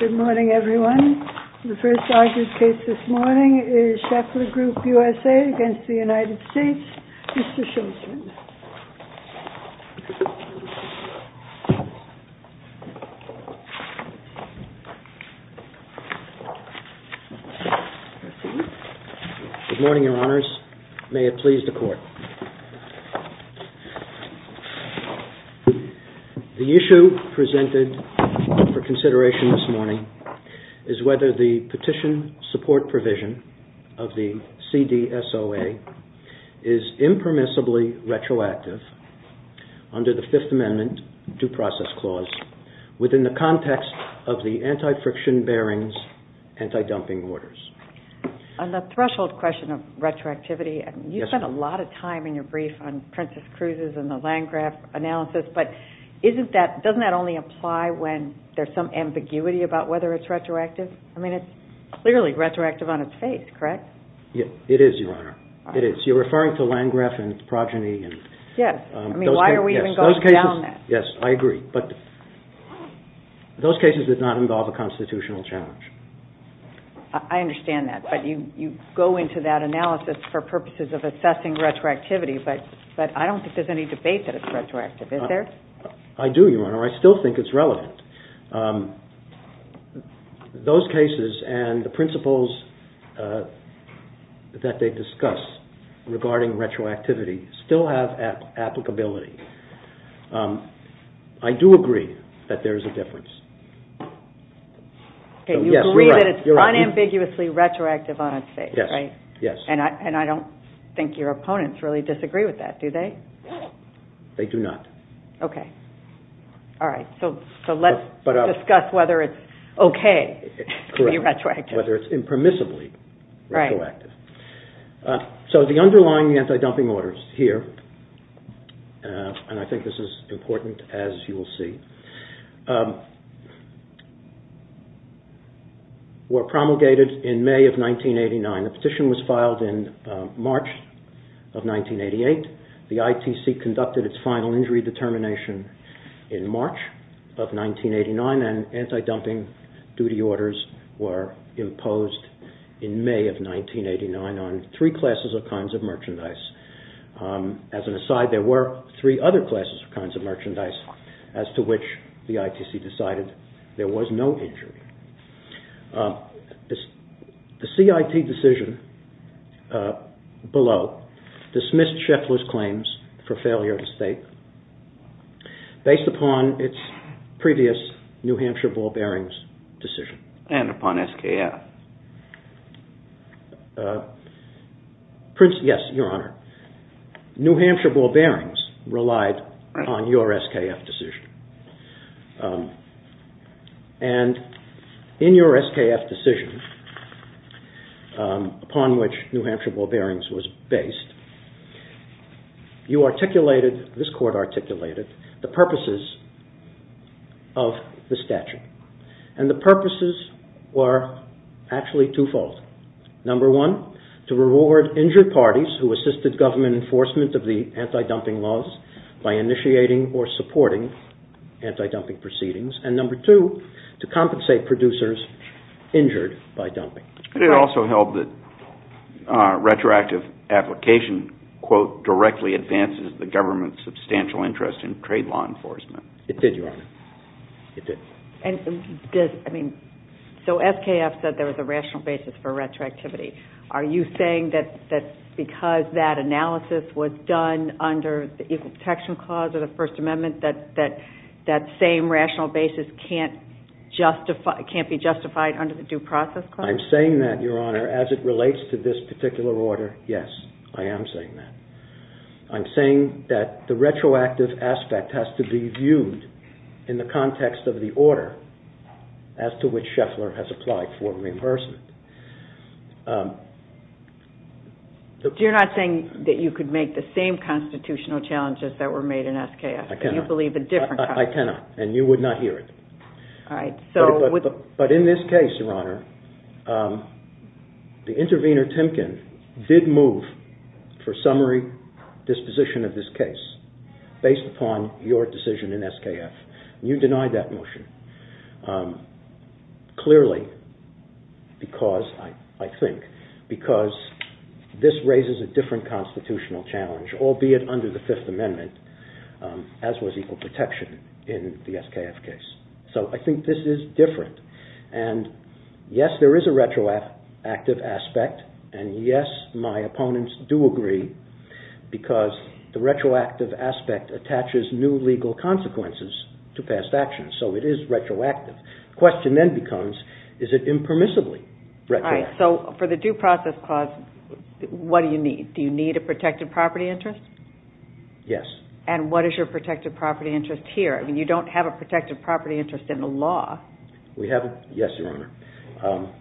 Good morning, everyone. The first argued case this morning is Schaeffler Group USA against the United States. Mr. Schaeffler. Good morning, Your Honors. May it please the Court. The issue presented for consideration this morning is whether the petition support provision of the CDSOA is impermissibly retroactive under the Fifth Amendment due process clause within the context of the anti-friction bearings, anti-dumping orders. On the threshold question of retroactivity, you spent a lot of time in your brief on Princess Cruz's and the Landgraf analysis, but doesn't that only apply when there's some ambiguity about whether it's retroactive? I mean it's clearly retroactive on its face, correct? It is, Your Honor. It is. You're referring to Landgraf and Progeny. Yes. I mean, why are we even going down that? Yes, I agree, but those cases did not involve a constitutional challenge. I understand that, but you go into that analysis for purposes of assessing retroactivity, but I don't think there's any debate that it's retroactive, is there? I do, Your Honor. I still think it's relevant. Those cases and the principles that they discuss regarding retroactivity still have applicability. I do agree that there's a difference. You believe that it's unambiguously retroactive on its face, right? Yes. And I don't think your opponents really disagree with that, do they? They do not. Okay. All right. So let's discuss whether it's okay to be retroactive. Whether it's impermissibly retroactive. So the underlying anti-dumping orders here, and I think this is important as you will see, were promulgated in May of 1989. The petition was filed in March of 1988. The ITC conducted its final injury determination in March of 1989, and anti-dumping duty orders were imposed in May of 1989 on three classes of kinds of merchandise. As an aside, there were three other classes of kinds of merchandise as to which the ITC decided there was no injury. The CIT decision below dismissed Scheffler's claims for failure to state based upon its previous New Hampshire ball bearings decision. And upon SKF. Yes, Your Honor. New Hampshire ball bearings relied on your SKF decision. And in your SKF decision, upon which New Hampshire ball bearings was based, you articulated, this court articulated, the purposes of the statute. And the purposes were actually twofold. Number one, to reward injured parties who assisted government enforcement of the anti-dumping laws by initiating or supporting anti-dumping proceedings. And number two, to compensate producers injured by dumping. It also held that retroactive application, quote, directly advances the government's substantial interest in trade law enforcement. It did, Your Honor. It did. So SKF said there was a rational basis for retroactivity. Are you saying that because that analysis was done under the Equal Protection Clause of the First Amendment that that same rational basis can't justify, can't be justified under the Due Process Clause? I'm saying that, Your Honor, as it relates to this particular order, yes, I am saying that. I'm saying that the retroactive aspect has to be viewed in the context of the order as to which Scheffler has applied for reimbursement. You're not saying that you could make the same constitutional challenges that were made in SKF? I cannot. And you believe a different constitution? I cannot, and you would not hear it. All right. But in this case, Your Honor, the intervener, Timken, did move for summary disposition of this case based upon your decision in SKF. You denied that motion. Clearly, because, I think, because this raises a different constitutional challenge, albeit under the Fifth Amendment, as was equal protection in the SKF case. So I think this is different. And yes, there is a retroactive aspect, and yes, my opponents do agree, because the retroactive aspect attaches new legal consequences to past actions. So it is retroactive. The question then becomes, is it impermissibly retroactive? All right. So for the due process clause, what do you need? Do you need a protected property interest? Yes. And what is your protected property interest here? I mean, you don't have a protected property interest in the law. We haven't. Yes, Your Honor.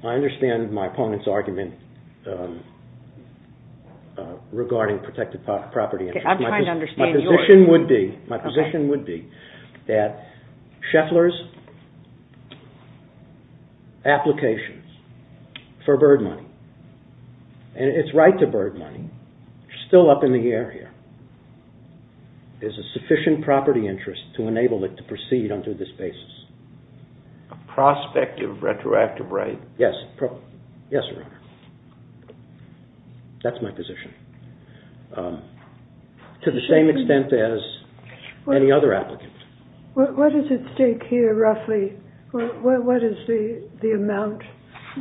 I understand my opponent's argument regarding protected property interest. I'm trying to understand yours. My position would be that Scheffler's applications for bird money, and its right to bird money, still up in the air here, is a sufficient property interest to enable it to proceed under this basis. A prospect of retroactive right? Yes. Yes, Your Honor. That's my position. To the same extent as any other applicant. What is at stake here, roughly? What is the amount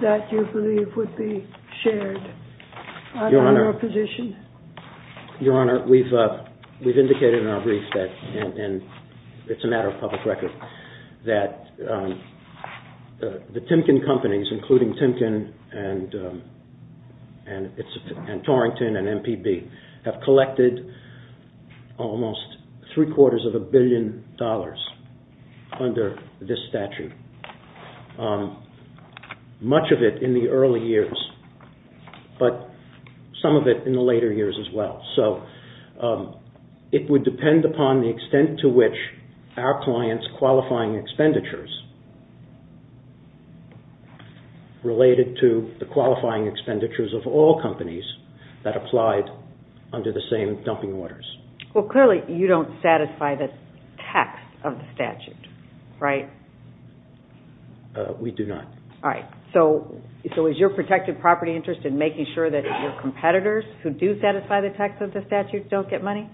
that you believe would be shared on your position? Your Honor, we've indicated in our brief that, and it's a matter of public record, that the Timken companies, including Timken and Torrington and MPB, have collected almost three quarters of a billion dollars under this statute. Much of it in the early years, but some of it in the later years as well. It would depend upon the extent to which our client's qualifying expenditures, related to the qualifying expenditures of all companies, that applied under the same dumping orders. Clearly, you don't satisfy the text of the statute, right? We do not. All right. So is your protected property interest in making sure that your competitors, who do satisfy the text of the statute, don't get money?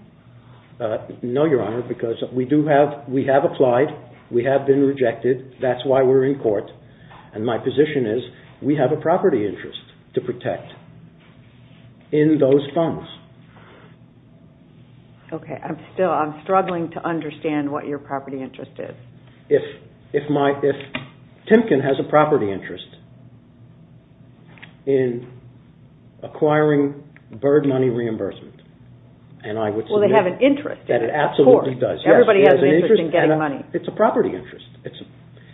No, Your Honor, because we have applied, we have been rejected, that's why we're in court, and my position is, we have a property interest to protect in those funds. Okay. I'm struggling to understand what your property interest is. If Timken has a property interest in acquiring bird money reimbursement, and I would suggest that it absolutely does. Well, they have an interest in it, of course. Everybody has an interest in getting money. It's a property interest.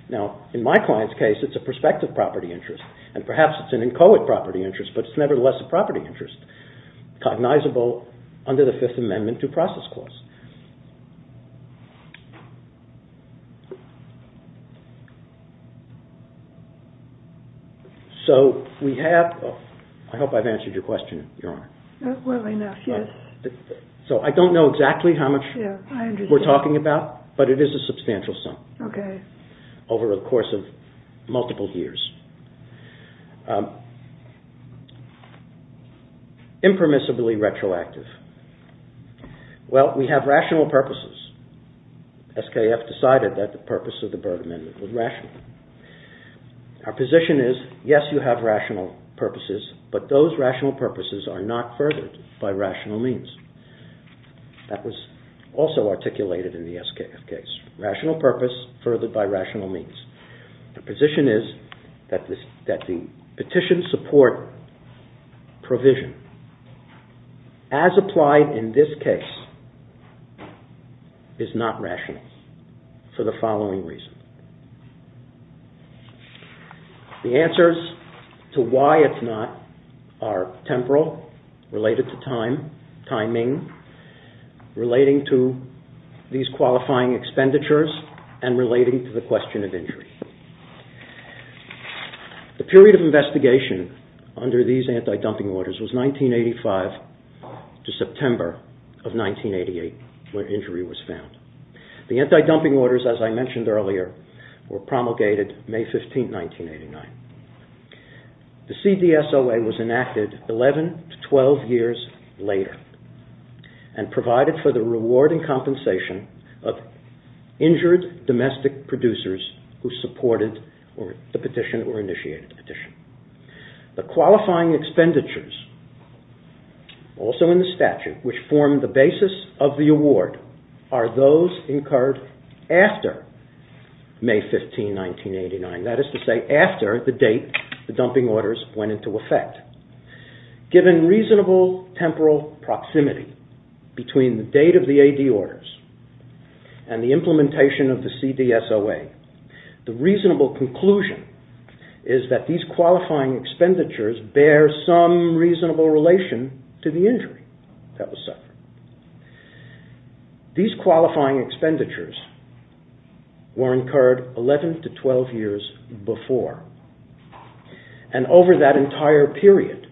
Now, in my client's case, it's a prospective property interest, and perhaps it's an inchoate property interest, but it's nevertheless a property interest, cognizable under the Fifth Amendment due process clause. So we have, I hope I've answered your question, Your Honor. Well enough, yes. So I don't know exactly how much we're talking about, but it is a substantial sum over the course of multiple years. Impermissibly retroactive. Well, we have rational purposes. SKF decided that the purpose of the Bird Amendment was rational. Our position is, yes, you have rational purposes, but those rational purposes are not furthered by rational means. That was also articulated in the SKF case. Rational purpose furthered by rational means. The position is that the petition support provision, as applied in this case, is not rational for the following reasons. The answers to why it's not are temporal, related to time, timing, relating to these qualifying expenditures, and relating to the question of injury. The period of investigation under these anti-dumping orders was 1985 to September of 1988, when injury was found. The anti-dumping orders, as I mentioned earlier, were promulgated May 15, 1989. The CDSOA was enacted 11 to 12 years later, and provided for the reward and compensation of injured domestic producers who supported the petition or initiated the petition. The qualifying expenditures, also in the statute, which form the basis of the award, are those incurred after May 15, 1989. That is to say, after the date the dumping orders went into effect. Given reasonable temporal proximity between the date of the AD orders and the implementation of the CDSOA, the reasonable conclusion is that these qualifying expenditures bear some reasonable relation to the injury that was suffered. These qualifying expenditures were incurred 11 to 12 years before, and over that entire period.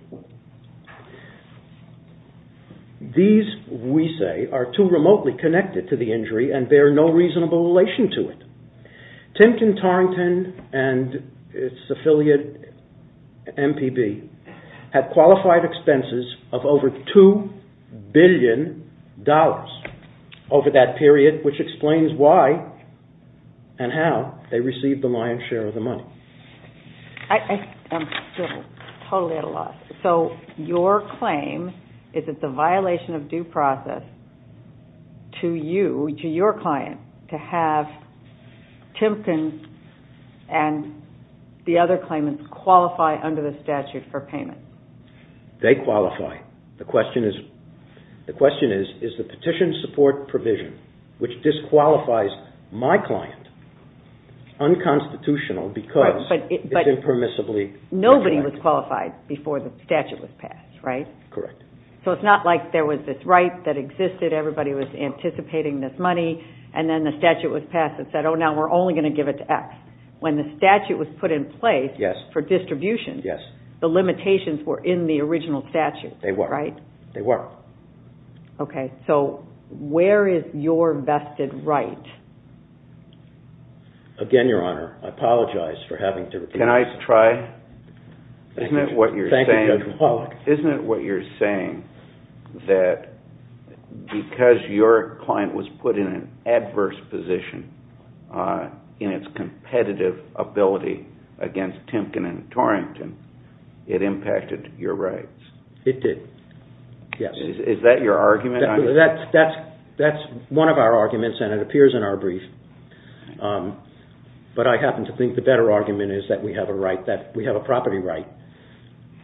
These, we say, are too remotely connected to the injury and bear no reasonable relation to it. Timpton-Tarrington and its affiliate, MPB, had qualified expenses of over $2 billion over that period, which explains why and how they received the lion's share of the money. I am still totally at a loss. So your claim is that the violation of due process to you, to your client, to have Timpton and the other claimants qualify under the statute for payment. They qualify. The question is, is the petition support provision, which disqualifies my client, unconstitutional because it is impermissibly... Nobody was qualified before the statute was passed, right? Correct. So it is not like there was this right that existed, everybody was anticipating this money, and then the statute was passed and said, oh, now we're only going to give it to X. When the statute was put in place for distribution, the limitations were in the original statute, right? They were. Okay. So where is your vested right? Again, Your Honor, I apologize for having to repeat myself. Can I try? Thank you, Judge McCulloch. Isn't it what you're saying that because your client was put in an adverse position in its competitive ability against Timpton and Torrington, it impacted your rights? It did, yes. Is that your argument? That's one of our arguments, and it appears in our brief. But I happen to think the better argument is that we have a right,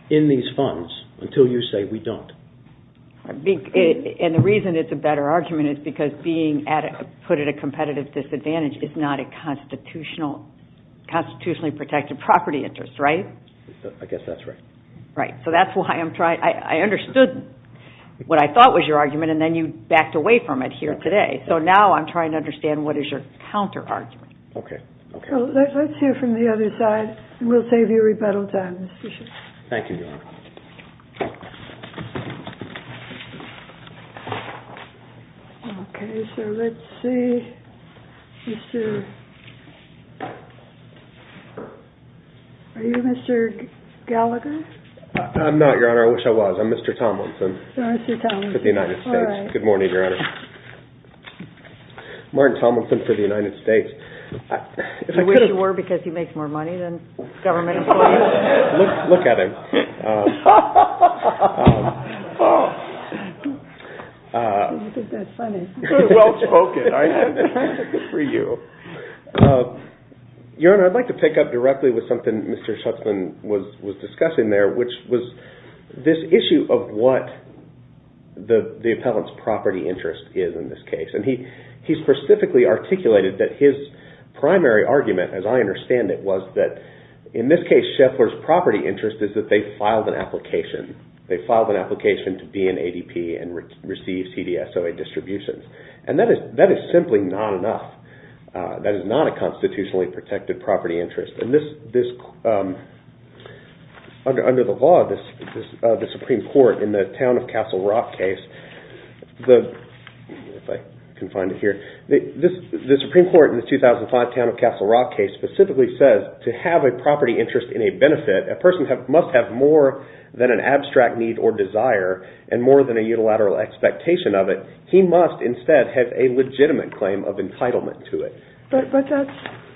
in these funds, until you say we don't. And the reason it's a better argument is because being put at a competitive disadvantage is not a constitutionally protected property interest, right? I guess that's right. Right. So that's why I understood what I thought was your argument, and then you backed away from it here today. So now I'm trying to understand what is your counterargument. Okay. Let's hear from the other side, and we'll save you rebuttal time. Thank you, Your Honor. Okay, so let's see. Mr. Are you Mr. Gallagher? I'm not, Your Honor. I wish I was. I'm Mr. Tomlinson. Mr. Tomlinson. For the United States. Good morning, Your Honor. Martin Tomlinson for the United States. You wish you were because you make more money than government employees? Look at him. You think that's funny. Well-spoken. Good for you. Your Honor, I'd like to pick up directly with something Mr. Schutzman was discussing there, which was this issue of what the appellant's property interest is in this case. And he specifically articulated that his primary argument, as I understand it, was that in this case, Scheffler's property interest is that they filed an application. They filed an application to be in ADP and receive CDSOA distributions. And that is simply not enough. That is not a constitutionally protected property interest. Under the law, the Supreme Court in the Town of Castle Rock case, if I can find it here, the Supreme Court in the 2005 Town of Castle Rock case specifically says to have a property interest in a benefit, a person must have more than an abstract need or desire and more than a unilateral expectation of it. He must instead have a legitimate claim of entitlement to it. But that's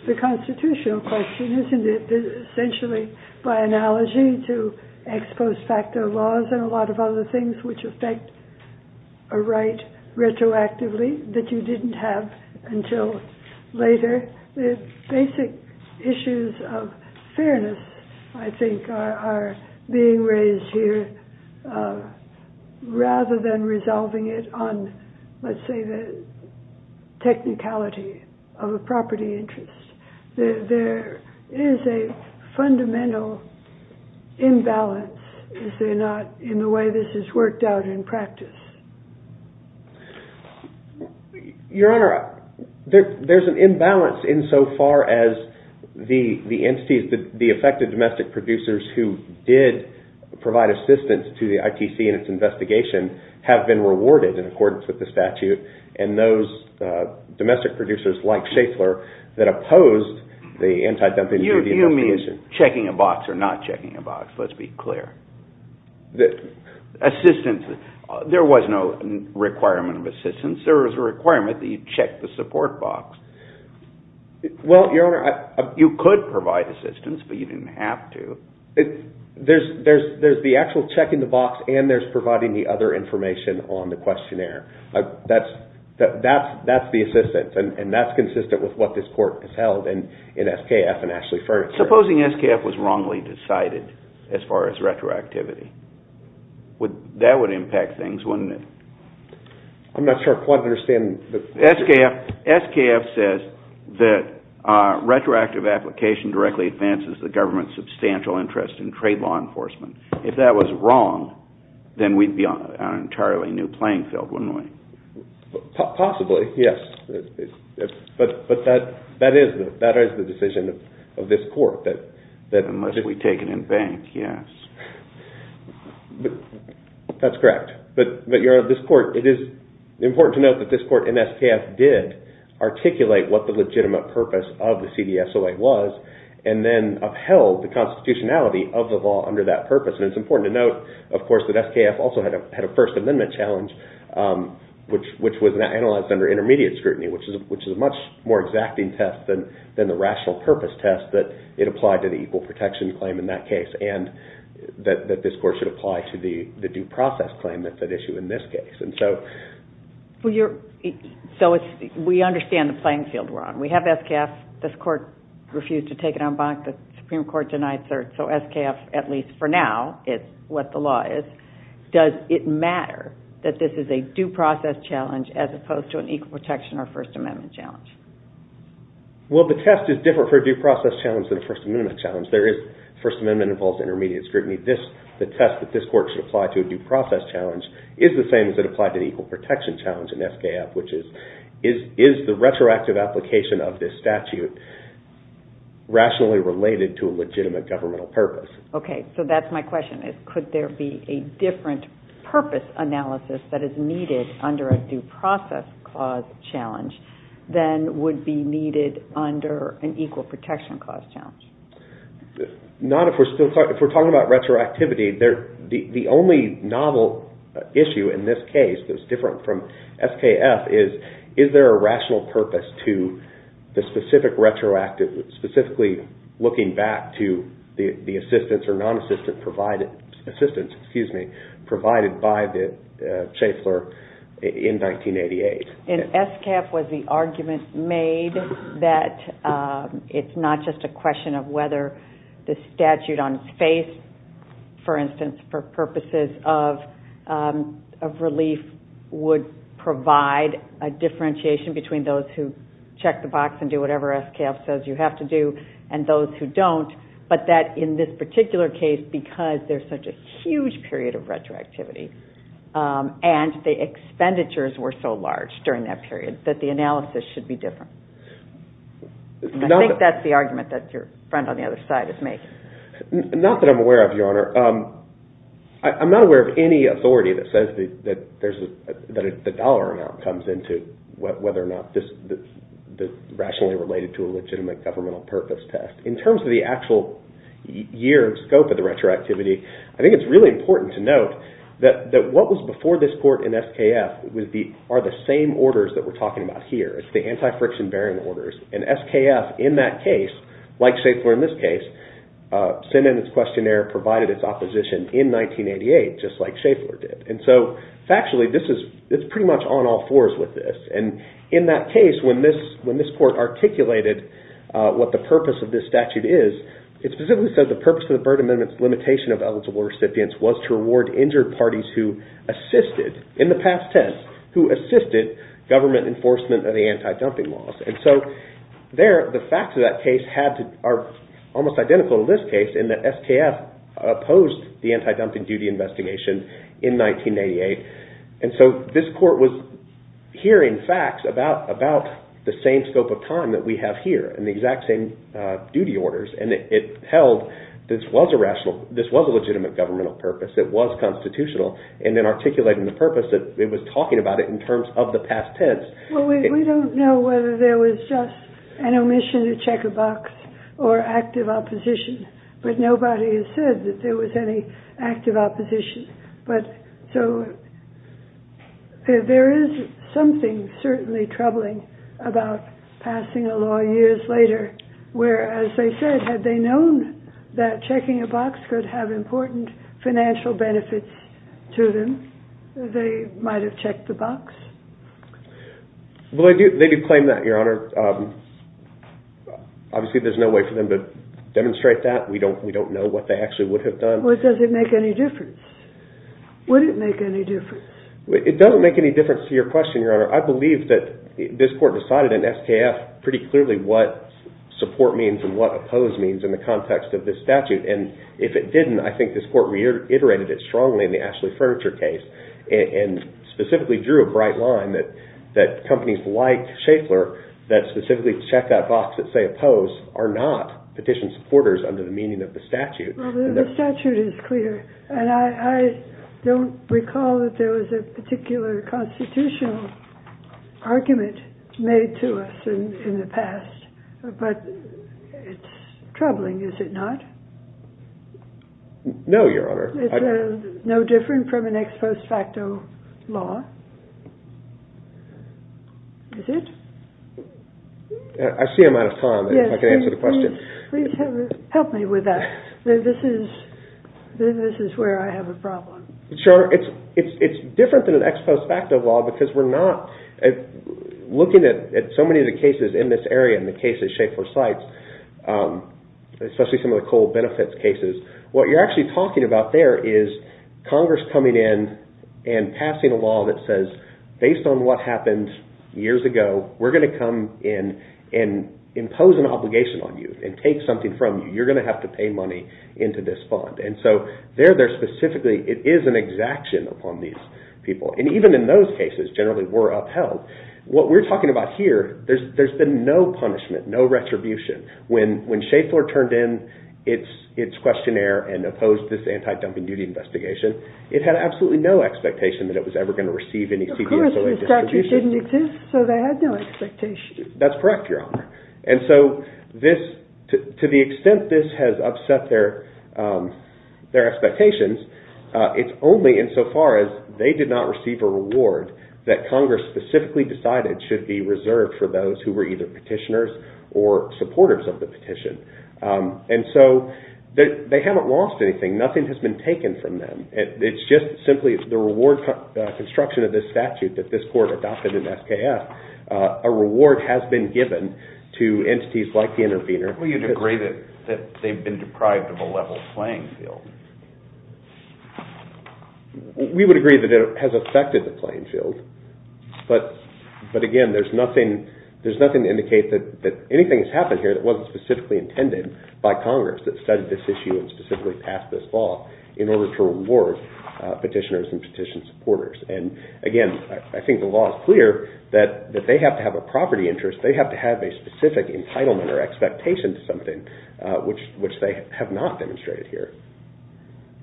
the constitutional question. Isn't it essentially by analogy to ex post facto laws and a lot of other things which affect a right retroactively that you didn't have until later? The basic issues of fairness, I think, are being raised here rather than resolving it on, let's say, the technicality of a property interest. There is a fundamental imbalance, is there not, in the way this is worked out in practice? Your Honor, there's an imbalance insofar as the entities, the affected domestic producers who did provide assistance to the ITC in its investigation have been rewarded in accordance with the statute. And those domestic producers, like Schaeffler, that opposed the anti-dumping duty investigation. You mean checking a box or not checking a box, let's be clear. Assistance, there was no requirement of assistance. There was a requirement that you check the support box. Well, Your Honor, I... You could provide assistance, but you didn't have to. There's the actual checking the box and there's providing the other information on the questionnaire. That's the assistance, and that's consistent with what this Court has held in SKF and Ashley Furniture. Supposing SKF was wrongly decided as far as retroactivity? That would impact things, wouldn't it? I'm not sure I quite understand the... SKF says that retroactive application directly advances the government's substantial interest in trade law enforcement. If that was wrong, then we'd be on an entirely new playing field wouldn't we? Possibly, yes. But that is the decision of this Court. Unless we take it in bank, yes. That's correct. But, Your Honor, this Court... It is important to note that this Court in SKF did articulate what the legitimate purpose of the CDSOA was and then upheld the constitutionality of the law under that purpose. And it's important to note, of course, that SKF also had a First Amendment challenge which was analyzed under intermediate scrutiny, which is a much more exacting test than the rational purpose test that it applied to the equal protection claim in that case and that this Court should apply to the due process claim that's at issue in this case. We understand the playing field we're on. We have SKF. This Court refused to take it on bank. The Supreme Court denied cert. So SKF, at least for now, is what the law is. Does it matter that this is a due process challenge as opposed to an equal protection or First Amendment challenge? Well, the test is different for a due process challenge than a First Amendment challenge. First Amendment involves intermediate scrutiny. The test that this Court should apply to a due process challenge is the same as it applied to the equal protection challenge in SKF, which is, is the retroactive application of this statute rationally related to a legitimate governmental purpose. Okay, so that's my question. Could there be a different purpose analysis that is needed under a due process cause challenge than would be needed under an equal protection cause challenge? If we're talking about retroactivity, the only novel issue in this case that's different from SKF is, is there a rational purpose to the specific retroactive, specifically looking back to the assistance or non-assistance provided, provided by the chaffer in 1988? SKF was the argument made that it's not just a question of whether the statute on its face, for instance, for purposes of relief would provide a differentiation between those who check the box and do whatever SKF says you have to do and those who don't, but that in this particular case, because there's such a huge period of retroactivity and the expenditures were so large during that period, that the analysis should be different. I think that's the argument that your friend on the other side is making. Not that I'm aware of, Your Honor. I'm not aware of any authority that says that the dollar amount comes into whether or not this is rationally related to a legitimate governmental purpose test. In terms of the actual year of scope of the retroactivity, I think it's really important to note that what was before this court in SKF are the same orders that we're talking about here. It's the anti-friction bearing orders. SKF, in that case, like Schaeffler in this case, sent in its questionnaire, provided its opposition in 1988, just like Schaeffler did. Factually, it's pretty much on all fours with this. In that case, when this court articulated what the purpose of this statute is, it specifically said the purpose of the Byrd Amendment's limitation of eligible recipients was to reward injured parties who assisted, in the past test, government enforcement of the anti-dumping laws. The facts of that case are almost identical to this case in that SKF opposed the anti-dumping duty investigation in 1988. This court was hearing facts about the same scope of time that we have here and the exact same duty orders. This was a legitimate governmental purpose. It was constitutional. We don't know whether there was just an omission to check a box or active opposition, but nobody has said that there was any active opposition. There is something certainly troubling about passing a law years later where, as they said, had they known that checking a box could have important financial benefits to them, they might have checked the box? Well, they do claim that, Your Honor. Obviously, there's no way for them to demonstrate that. We don't know what they actually would have done. Well, does it make any difference? Would it make any difference? It doesn't make any difference to your question, Your Honor. I believe that this court decided in SKF pretty clearly what support means and what oppose means in the context of this statute. If it didn't, I think this court reiterated it strongly in the Ashley Furniture case and specifically drew a bright line that companies like Schaeffler that specifically check that box that they oppose are not petition supporters under the meaning of the statute. The statute is clear. I don't recall that there was a particular constitutional argument made to us in the past, but it's troubling, is it not? No, Your Honor. It's no different from an ex post facto law? Is it? I see I'm out of time. If I can answer the question. Please help me with that. This is where I have a problem. Sure, it's different than an ex post facto law because we're not looking at so many of the cases in this area and the cases Schaeffler cites, especially some of the coal benefits cases. What you're actually talking about there is Congress coming in and passing a law that says based on what happened years ago, we're going to come in and impose an obligation on you and take something from you. You're going to have to pay money into this fund. There, specifically, it is an exaction upon these people. Even in those cases, generally, we're upheld. What we're talking about here, there's been no punishment, no retribution. When Schaeffler turned in its questionnaire and opposed this anti-dumping duty investigation, it had absolutely no expectation that it was ever going to receive any CPSOA distribution. Of course, the statute didn't exist, so they had no expectation. That's correct, Your Honor. To the extent this has upset their expectations, it's only insofar as they did not receive a reward that Congress specifically decided should be reserved for those who were either petitioners or supporters of the petition. They haven't lost anything. Nothing has been taken from them. It's just simply the reward construction of this statute that this court adopted in SKF. A reward has been given to entities like the intervener. We would agree that they've been deprived of a level playing field. We would agree that it has affected the playing field. But, again, there's nothing to indicate that anything has happened here that wasn't specifically intended by Congress that studied this issue and specifically passed this law Again, I don't think there's anything to indicate I think the law is clear that they have to have a property interest. They have to have a specific entitlement or expectation to something which they have not demonstrated here.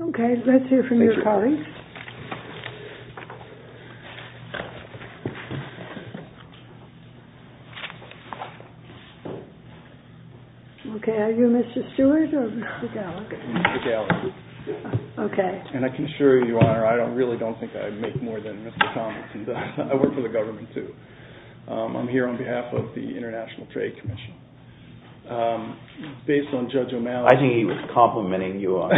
Okay. Let's hear from your colleagues. Are you Mr. Stewart or Mr. Gallagher? Mr. Gallagher. I can assure you, Your Honor, I really don't think I make more than Mr. Thomas. I work for the government, too. I'm here on behalf of the International Trade Commission. Based on Judge O'Malley's I think he was complimenting you, Your Honor.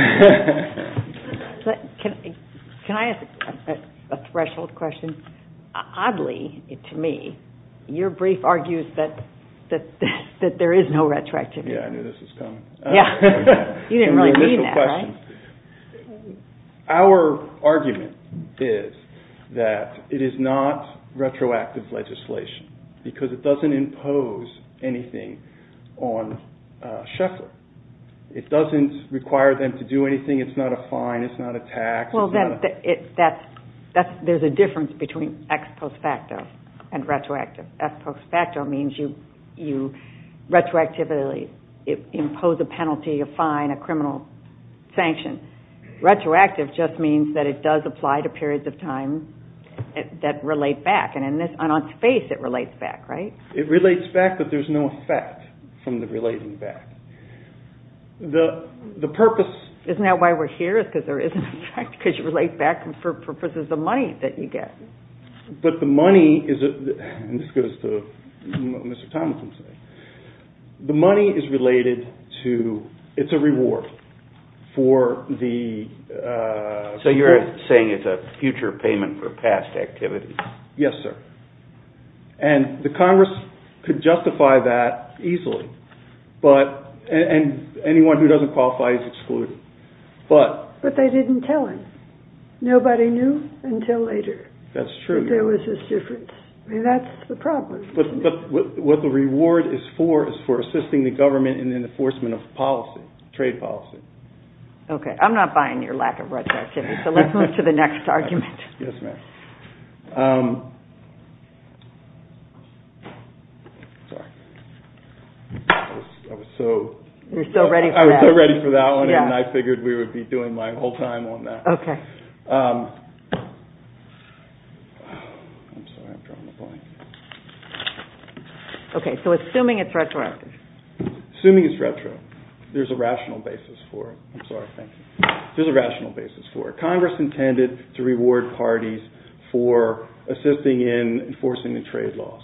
Can I ask a threshold question? Oddly, to me, your brief argues that there is no retroactivity. Yeah, I knew this was coming. You didn't really mean that, right? Our argument is that it is not retroactive legislation because it doesn't impose anything on Sheffield. It doesn't require them to do anything. It's not a fine. It's not a tax. There's a difference between ex post facto and retroactive. Ex post facto means you retroactively impose a penalty, a fine, a criminal sanction. Retroactive just means that it does apply to periods of time that relate back. On its face, it relates back, right? It relates back, but there's no effect from the relating back. Isn't that why we're here? Because you relate back for purposes of money that you get. But the money is related to, it's a reward. So you're saying it's a future payment for past activity? Yes, sir. The Congress could justify that easily. Anyone who doesn't qualify is excluded. But they didn't tell him. Nobody knew until later that there was this difference. What the reward is for is for assisting the government in the enforcement of policy, trade policy. I'm not buying your lack of retroactivity, so let's move to the next argument. I was so ready for that one and I figured we would be doing my whole time on that. I'm sorry, I'm drawing a blank. Okay, so assuming it's retroactive. Assuming it's retro, there's a rational basis for it. I'm sorry, thank you. Congress intended to reward parties for assisting in enforcing the trade laws.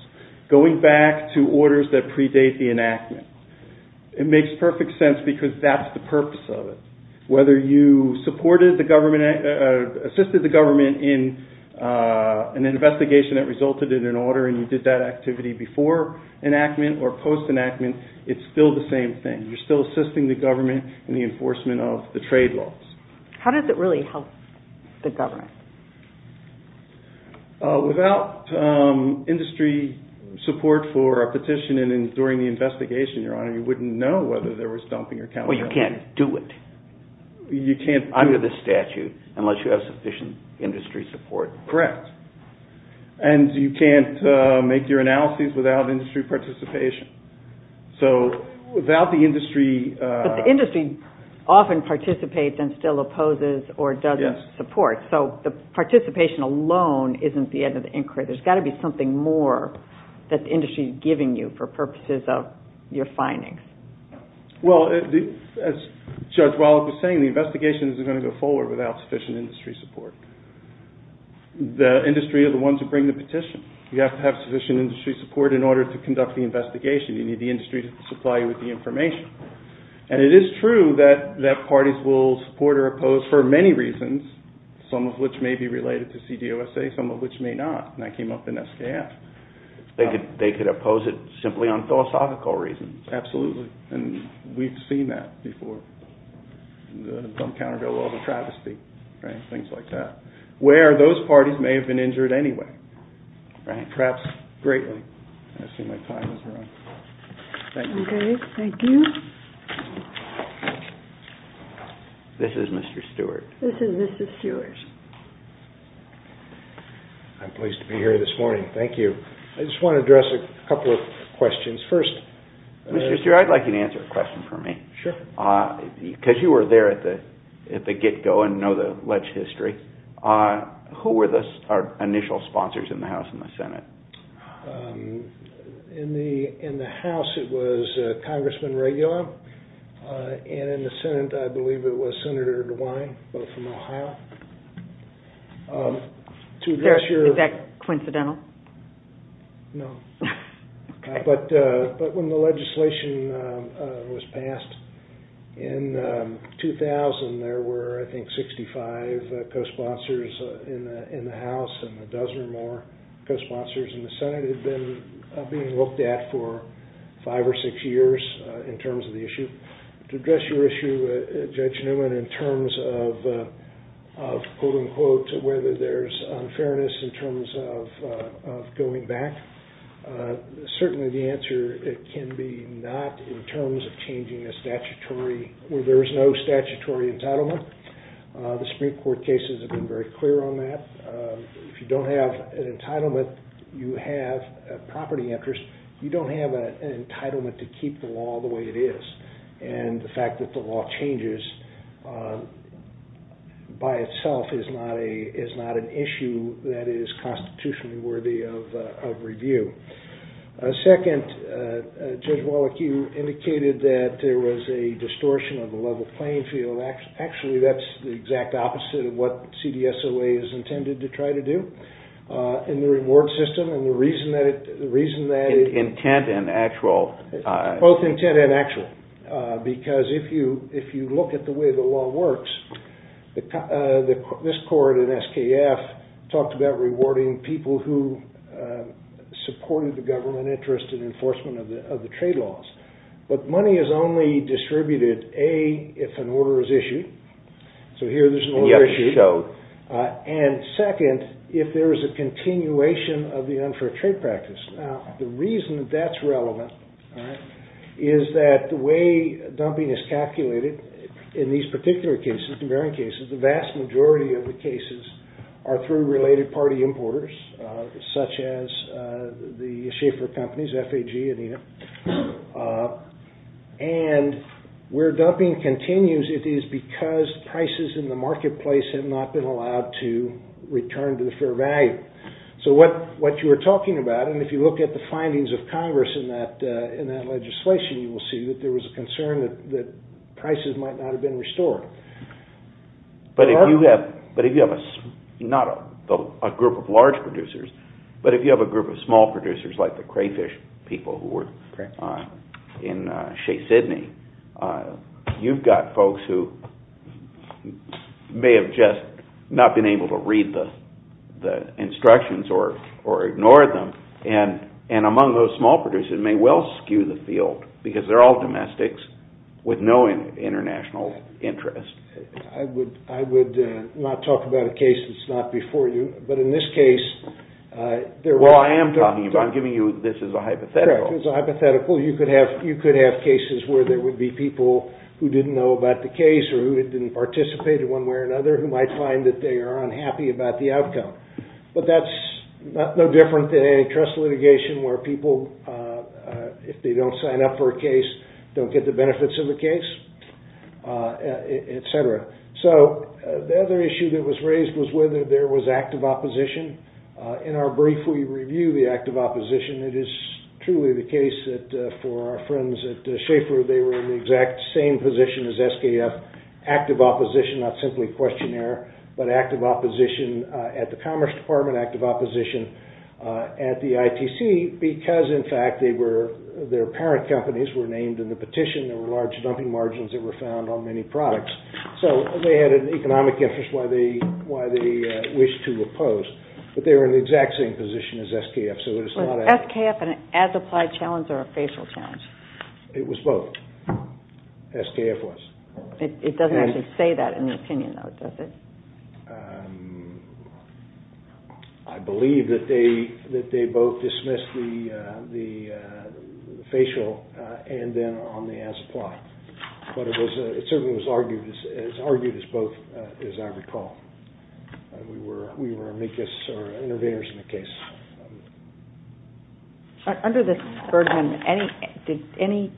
Going back to orders that predate the enactment, it makes perfect sense because that's the purpose of it. Whether you assisted the government in an investigation that resulted in an order and you did that activity before enactment or post-enactment, it's still the same thing. You're still assisting the government in the enforcement of the trade laws. How does it really help the government? Without industry support for a petition and during the investigation, Your Honor, you wouldn't know whether there was dumping or counterfeiting. Well, you can't do it under the statute unless you have sufficient industry support. Correct. And you can't make your analyses without industry participation. So without the industry... But the industry often participates and still opposes or doesn't support. So the participation alone isn't the end of the inquiry. There's got to be something more that the industry is giving you for purposes of your findings. Well, as Judge Wallach was saying, the investigation isn't going to go forward without sufficient industry support. The industry are the ones who bring the petition. You have to have sufficient industry support in order to conduct the investigation. You need the industry to supply you with the information. And it is true that parties will support or oppose for many reasons, some of which may be related to CDOSA, some of which may not. And that came up in SKF. They could oppose it simply on philosophical reasons. Absolutely. And we've seen that before. The Dumb Countervail Law, the travesty, things like that. Where those parties may have been injured anyway. Perhaps greatly. I see my time has run. Thank you. Okay. Thank you. This is Mr. Stewart. This is Mr. Stewart. I'm pleased to be here this morning. Thank you. I just want to address a couple of questions. Mr. Stewart, I'd like you to answer a question for me. Sure. Because you were there at the get-go and know the ledge history. Who were our initial sponsors in the House and the Senate? In the House, it was Congressman Regula. And in the Senate, I believe it was Senator DeWine. Both from Ohio. Is that coincidental? No. But when the legislation was passed in 2000, there were, I think, 65 co-sponsors in the House and a dozen or more co-sponsors in the Senate that had been looked at for five or six years in terms of the issue. To address your issue, Judge Newman, in terms of whether there's unfairness in terms of going back, certainly the answer can be not in terms of changing a statutory where there is no statutory entitlement. The Supreme Court cases have been very clear on that. If you don't have an entitlement, you have property interest. You don't have an entitlement to keep the law the way it is. And the fact that the law changes by itself is not an issue that is constitutionally worthy of review. Second, Judge Wallach, you indicated that there was a distortion of the level playing field. Actually, that's the exact way it's intended to try to do in the reward system. Both intent and actual. Because if you look at the way the law works, this court in SKF talked about rewarding people who supported the government interest in enforcement of the trade laws. But money is only distributed, A, if an order is issued. So here there's an order issued. And second, if there is a continuation of the unfair trade practice. Now, the reason that that's relevant is that the way dumping is calculated in these particular cases, the varying cases, the vast majority of the cases are through related party importers, such as the Schaeffer companies, FAG and ENIP. And where dumping continues, it is because prices in the marketplace have not been allowed to return to the fair value. So what you were talking about, and if you look at the findings of Congress in that legislation, you will see that there was a concern that prices might not have been restored. But if you have not a group of large producers, but if you have a group of small producers, like the crayfish people who were in Shea Sydney, you've got folks who may have just not been able to read the instructions or ignore them. And among those small producers may well skew the field, because they're all domestics with no international interest. I would not talk about a case that's not before you, but in this case... I'm giving you this as a hypothetical. You could have cases where there would be people who didn't know about the case, or who didn't participate in one way or another, who might find that they are unhappy about the outcome. But that's no different than antitrust litigation, where people, if they don't sign up for a case, don't get the benefits of the case, etc. So the other issue that was raised was whether there was active opposition. In our brief, we review the active opposition. It is truly the case that for our friends at Schaefer, they were in the exact same position as SKF. Active opposition, not simply questionnaire, but active opposition at the Commerce Department, active opposition at the ITC, because in fact, their parent companies were named in the petition, there were large dumping margins that were found on many products. So they had an economic interest, why they wished to oppose, but they were in the exact same position as SKF, so it's not... Was SKF an as-applied challenge or a facial challenge? It was both. SKF was. It doesn't actually say that in the opinion, though, does it? I believe that they both dismissed the facial, and then on the as-applied. But it certainly was argued as both, as I recall. We were amicus or intervenors in the case. Under this burden, did any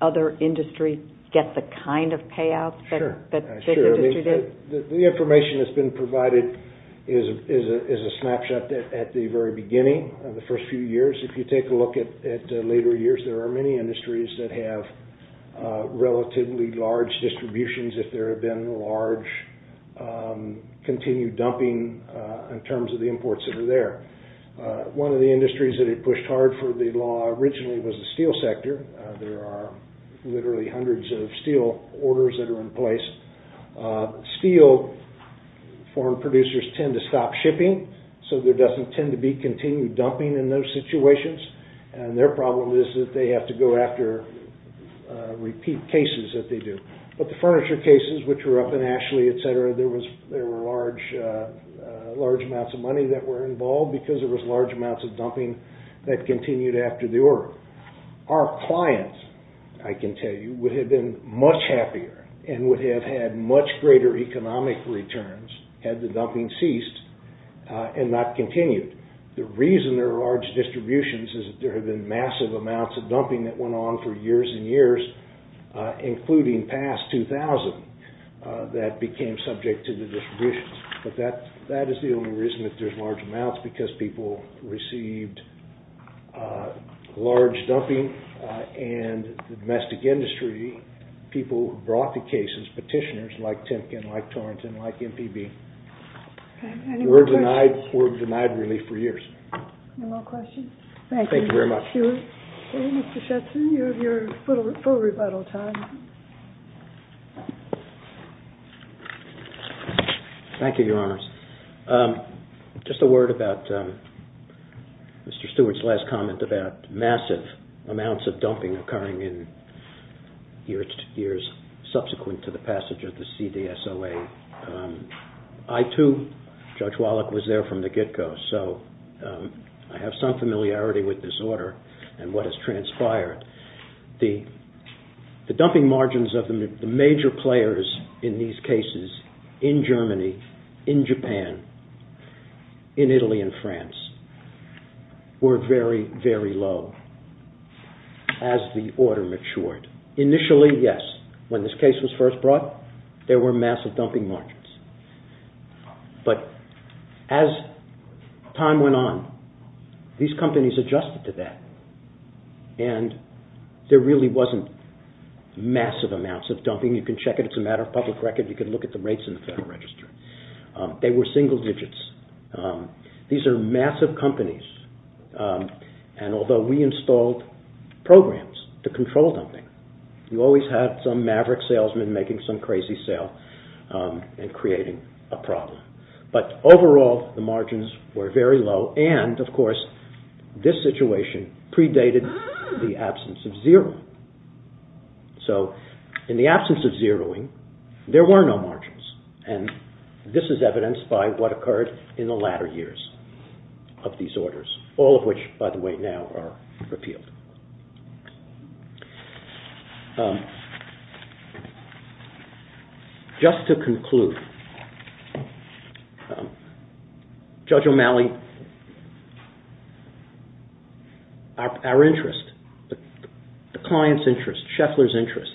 other industry get the kind of payouts that this industry did? Sure. The information that's been provided is a snapshot at the very beginning of the first few years. If you take a look at later years, there are many industries that have relatively large distributions if there have been large continued dumping in terms of the imports that are there. One of the industries that had pushed hard for the law originally was the steel sector. There are literally hundreds of steel orders that are in place. Steel, foreign producers tend to stop shipping, so there doesn't tend to be continued dumping in those situations. Their problem is that they have to go after repeat cases that they do. But the furniture cases, which were up in Ashley, there were large amounts of money that were involved because there was large amounts of dumping that continued after the order. Our clients, I can tell you, would have been much happier and would have had much greater economic returns had the dumping ceased and not continued. The reason there are large distributions is that there have been massive amounts of dumping that went on for years and years, including past 2000, that became subject to the distributions. But that is the only reason that there's large amounts because people received large dumping and the domestic industry, people brought the cases, petitioners like Timkin, like Torrent, like MPB, were denied relief for years. Thank you very much. Mr. Shetson, you have your full rebuttal time. Thank you, Your Honors. Just a word about Mr. Stewart's last comment about massive amounts of dumping occurring in years subsequent to the passage of the CDSOA. I too, Judge Wallach was there from the get-go, so I have some familiarity with this order and what has transpired. The dumping margins of the major players in these cases in Germany, in Japan, in Italy and France were very, very low as the order matured. Initially, yes, when this case was first brought, there were massive dumping margins. But as time went on, these companies adjusted to that and there really wasn't massive amounts of dumping. You can check it. It's a matter of public record. You can look at the rates in the Federal Register. They were single digits. These are massive companies and although we installed programs to control dumping, we always had some maverick salesman making some crazy sale and creating a problem. But overall, the margins were very low and, of course, this situation predated the absence of zeroing. In the absence of zeroing, there were no margins in the latter years of these orders, all of which, by the way, now are repealed. Just to conclude, Judge O'Malley, our interest, the client's interest, Scheffler's interest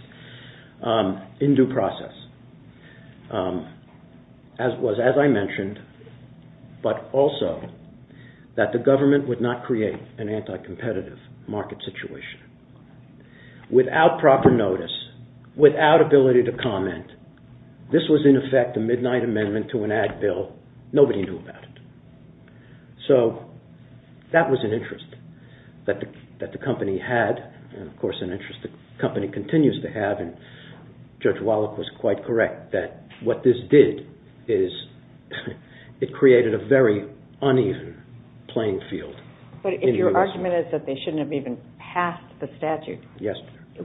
in due process was, as I mentioned, but also that the government would not create an anti-competitive market situation. Without proper notice, without ability to comment, this was in effect a midnight amendment to an ad bill. Nobody knew about it. That was an interest that the company had and, of course, an interest that the company continues to have and Judge Wallach was quite correct that what this did is it created a very uneven playing field. But if your argument is that they shouldn't have even passed the statute,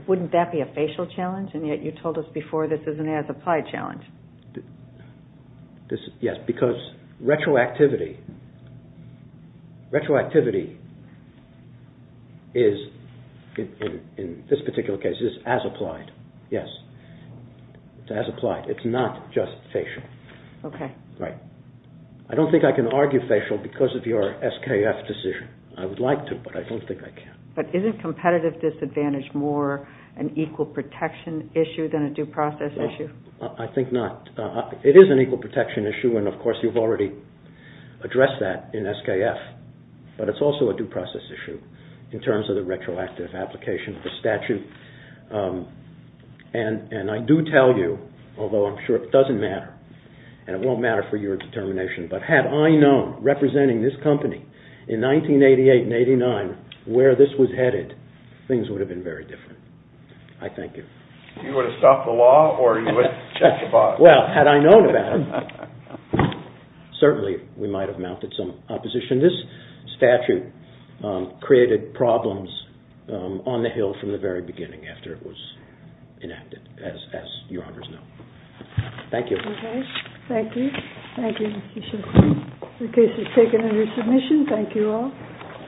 wouldn't that be a facial challenge and yet you told us before this is an as-applied challenge? Yes, because retroactivity is, in this particular case, as-applied. It's not just facial. I don't think I can argue facial because of your SKF decision. I would like to, but I don't think I can. But isn't competitive disadvantage more an equal protection issue than a due process issue? I think not. It is an equal protection issue and, of course, you've already addressed that in SKF, but it's also a due process issue in terms of the retroactive application of the statute. And I do tell you, although I'm sure it doesn't matter and it won't matter for your determination, but had I known, representing this company in 1988 and 1989, where this was headed, things would have been very different. I thank you. You would have stopped the law or you would have checked the box? Well, had I known about it, certainly we might have mounted some opposition. This statute created problems on the Hill from the very beginning after it was enacted, as Your Honors know. Thank you. The case is taken under submission. Thank you all.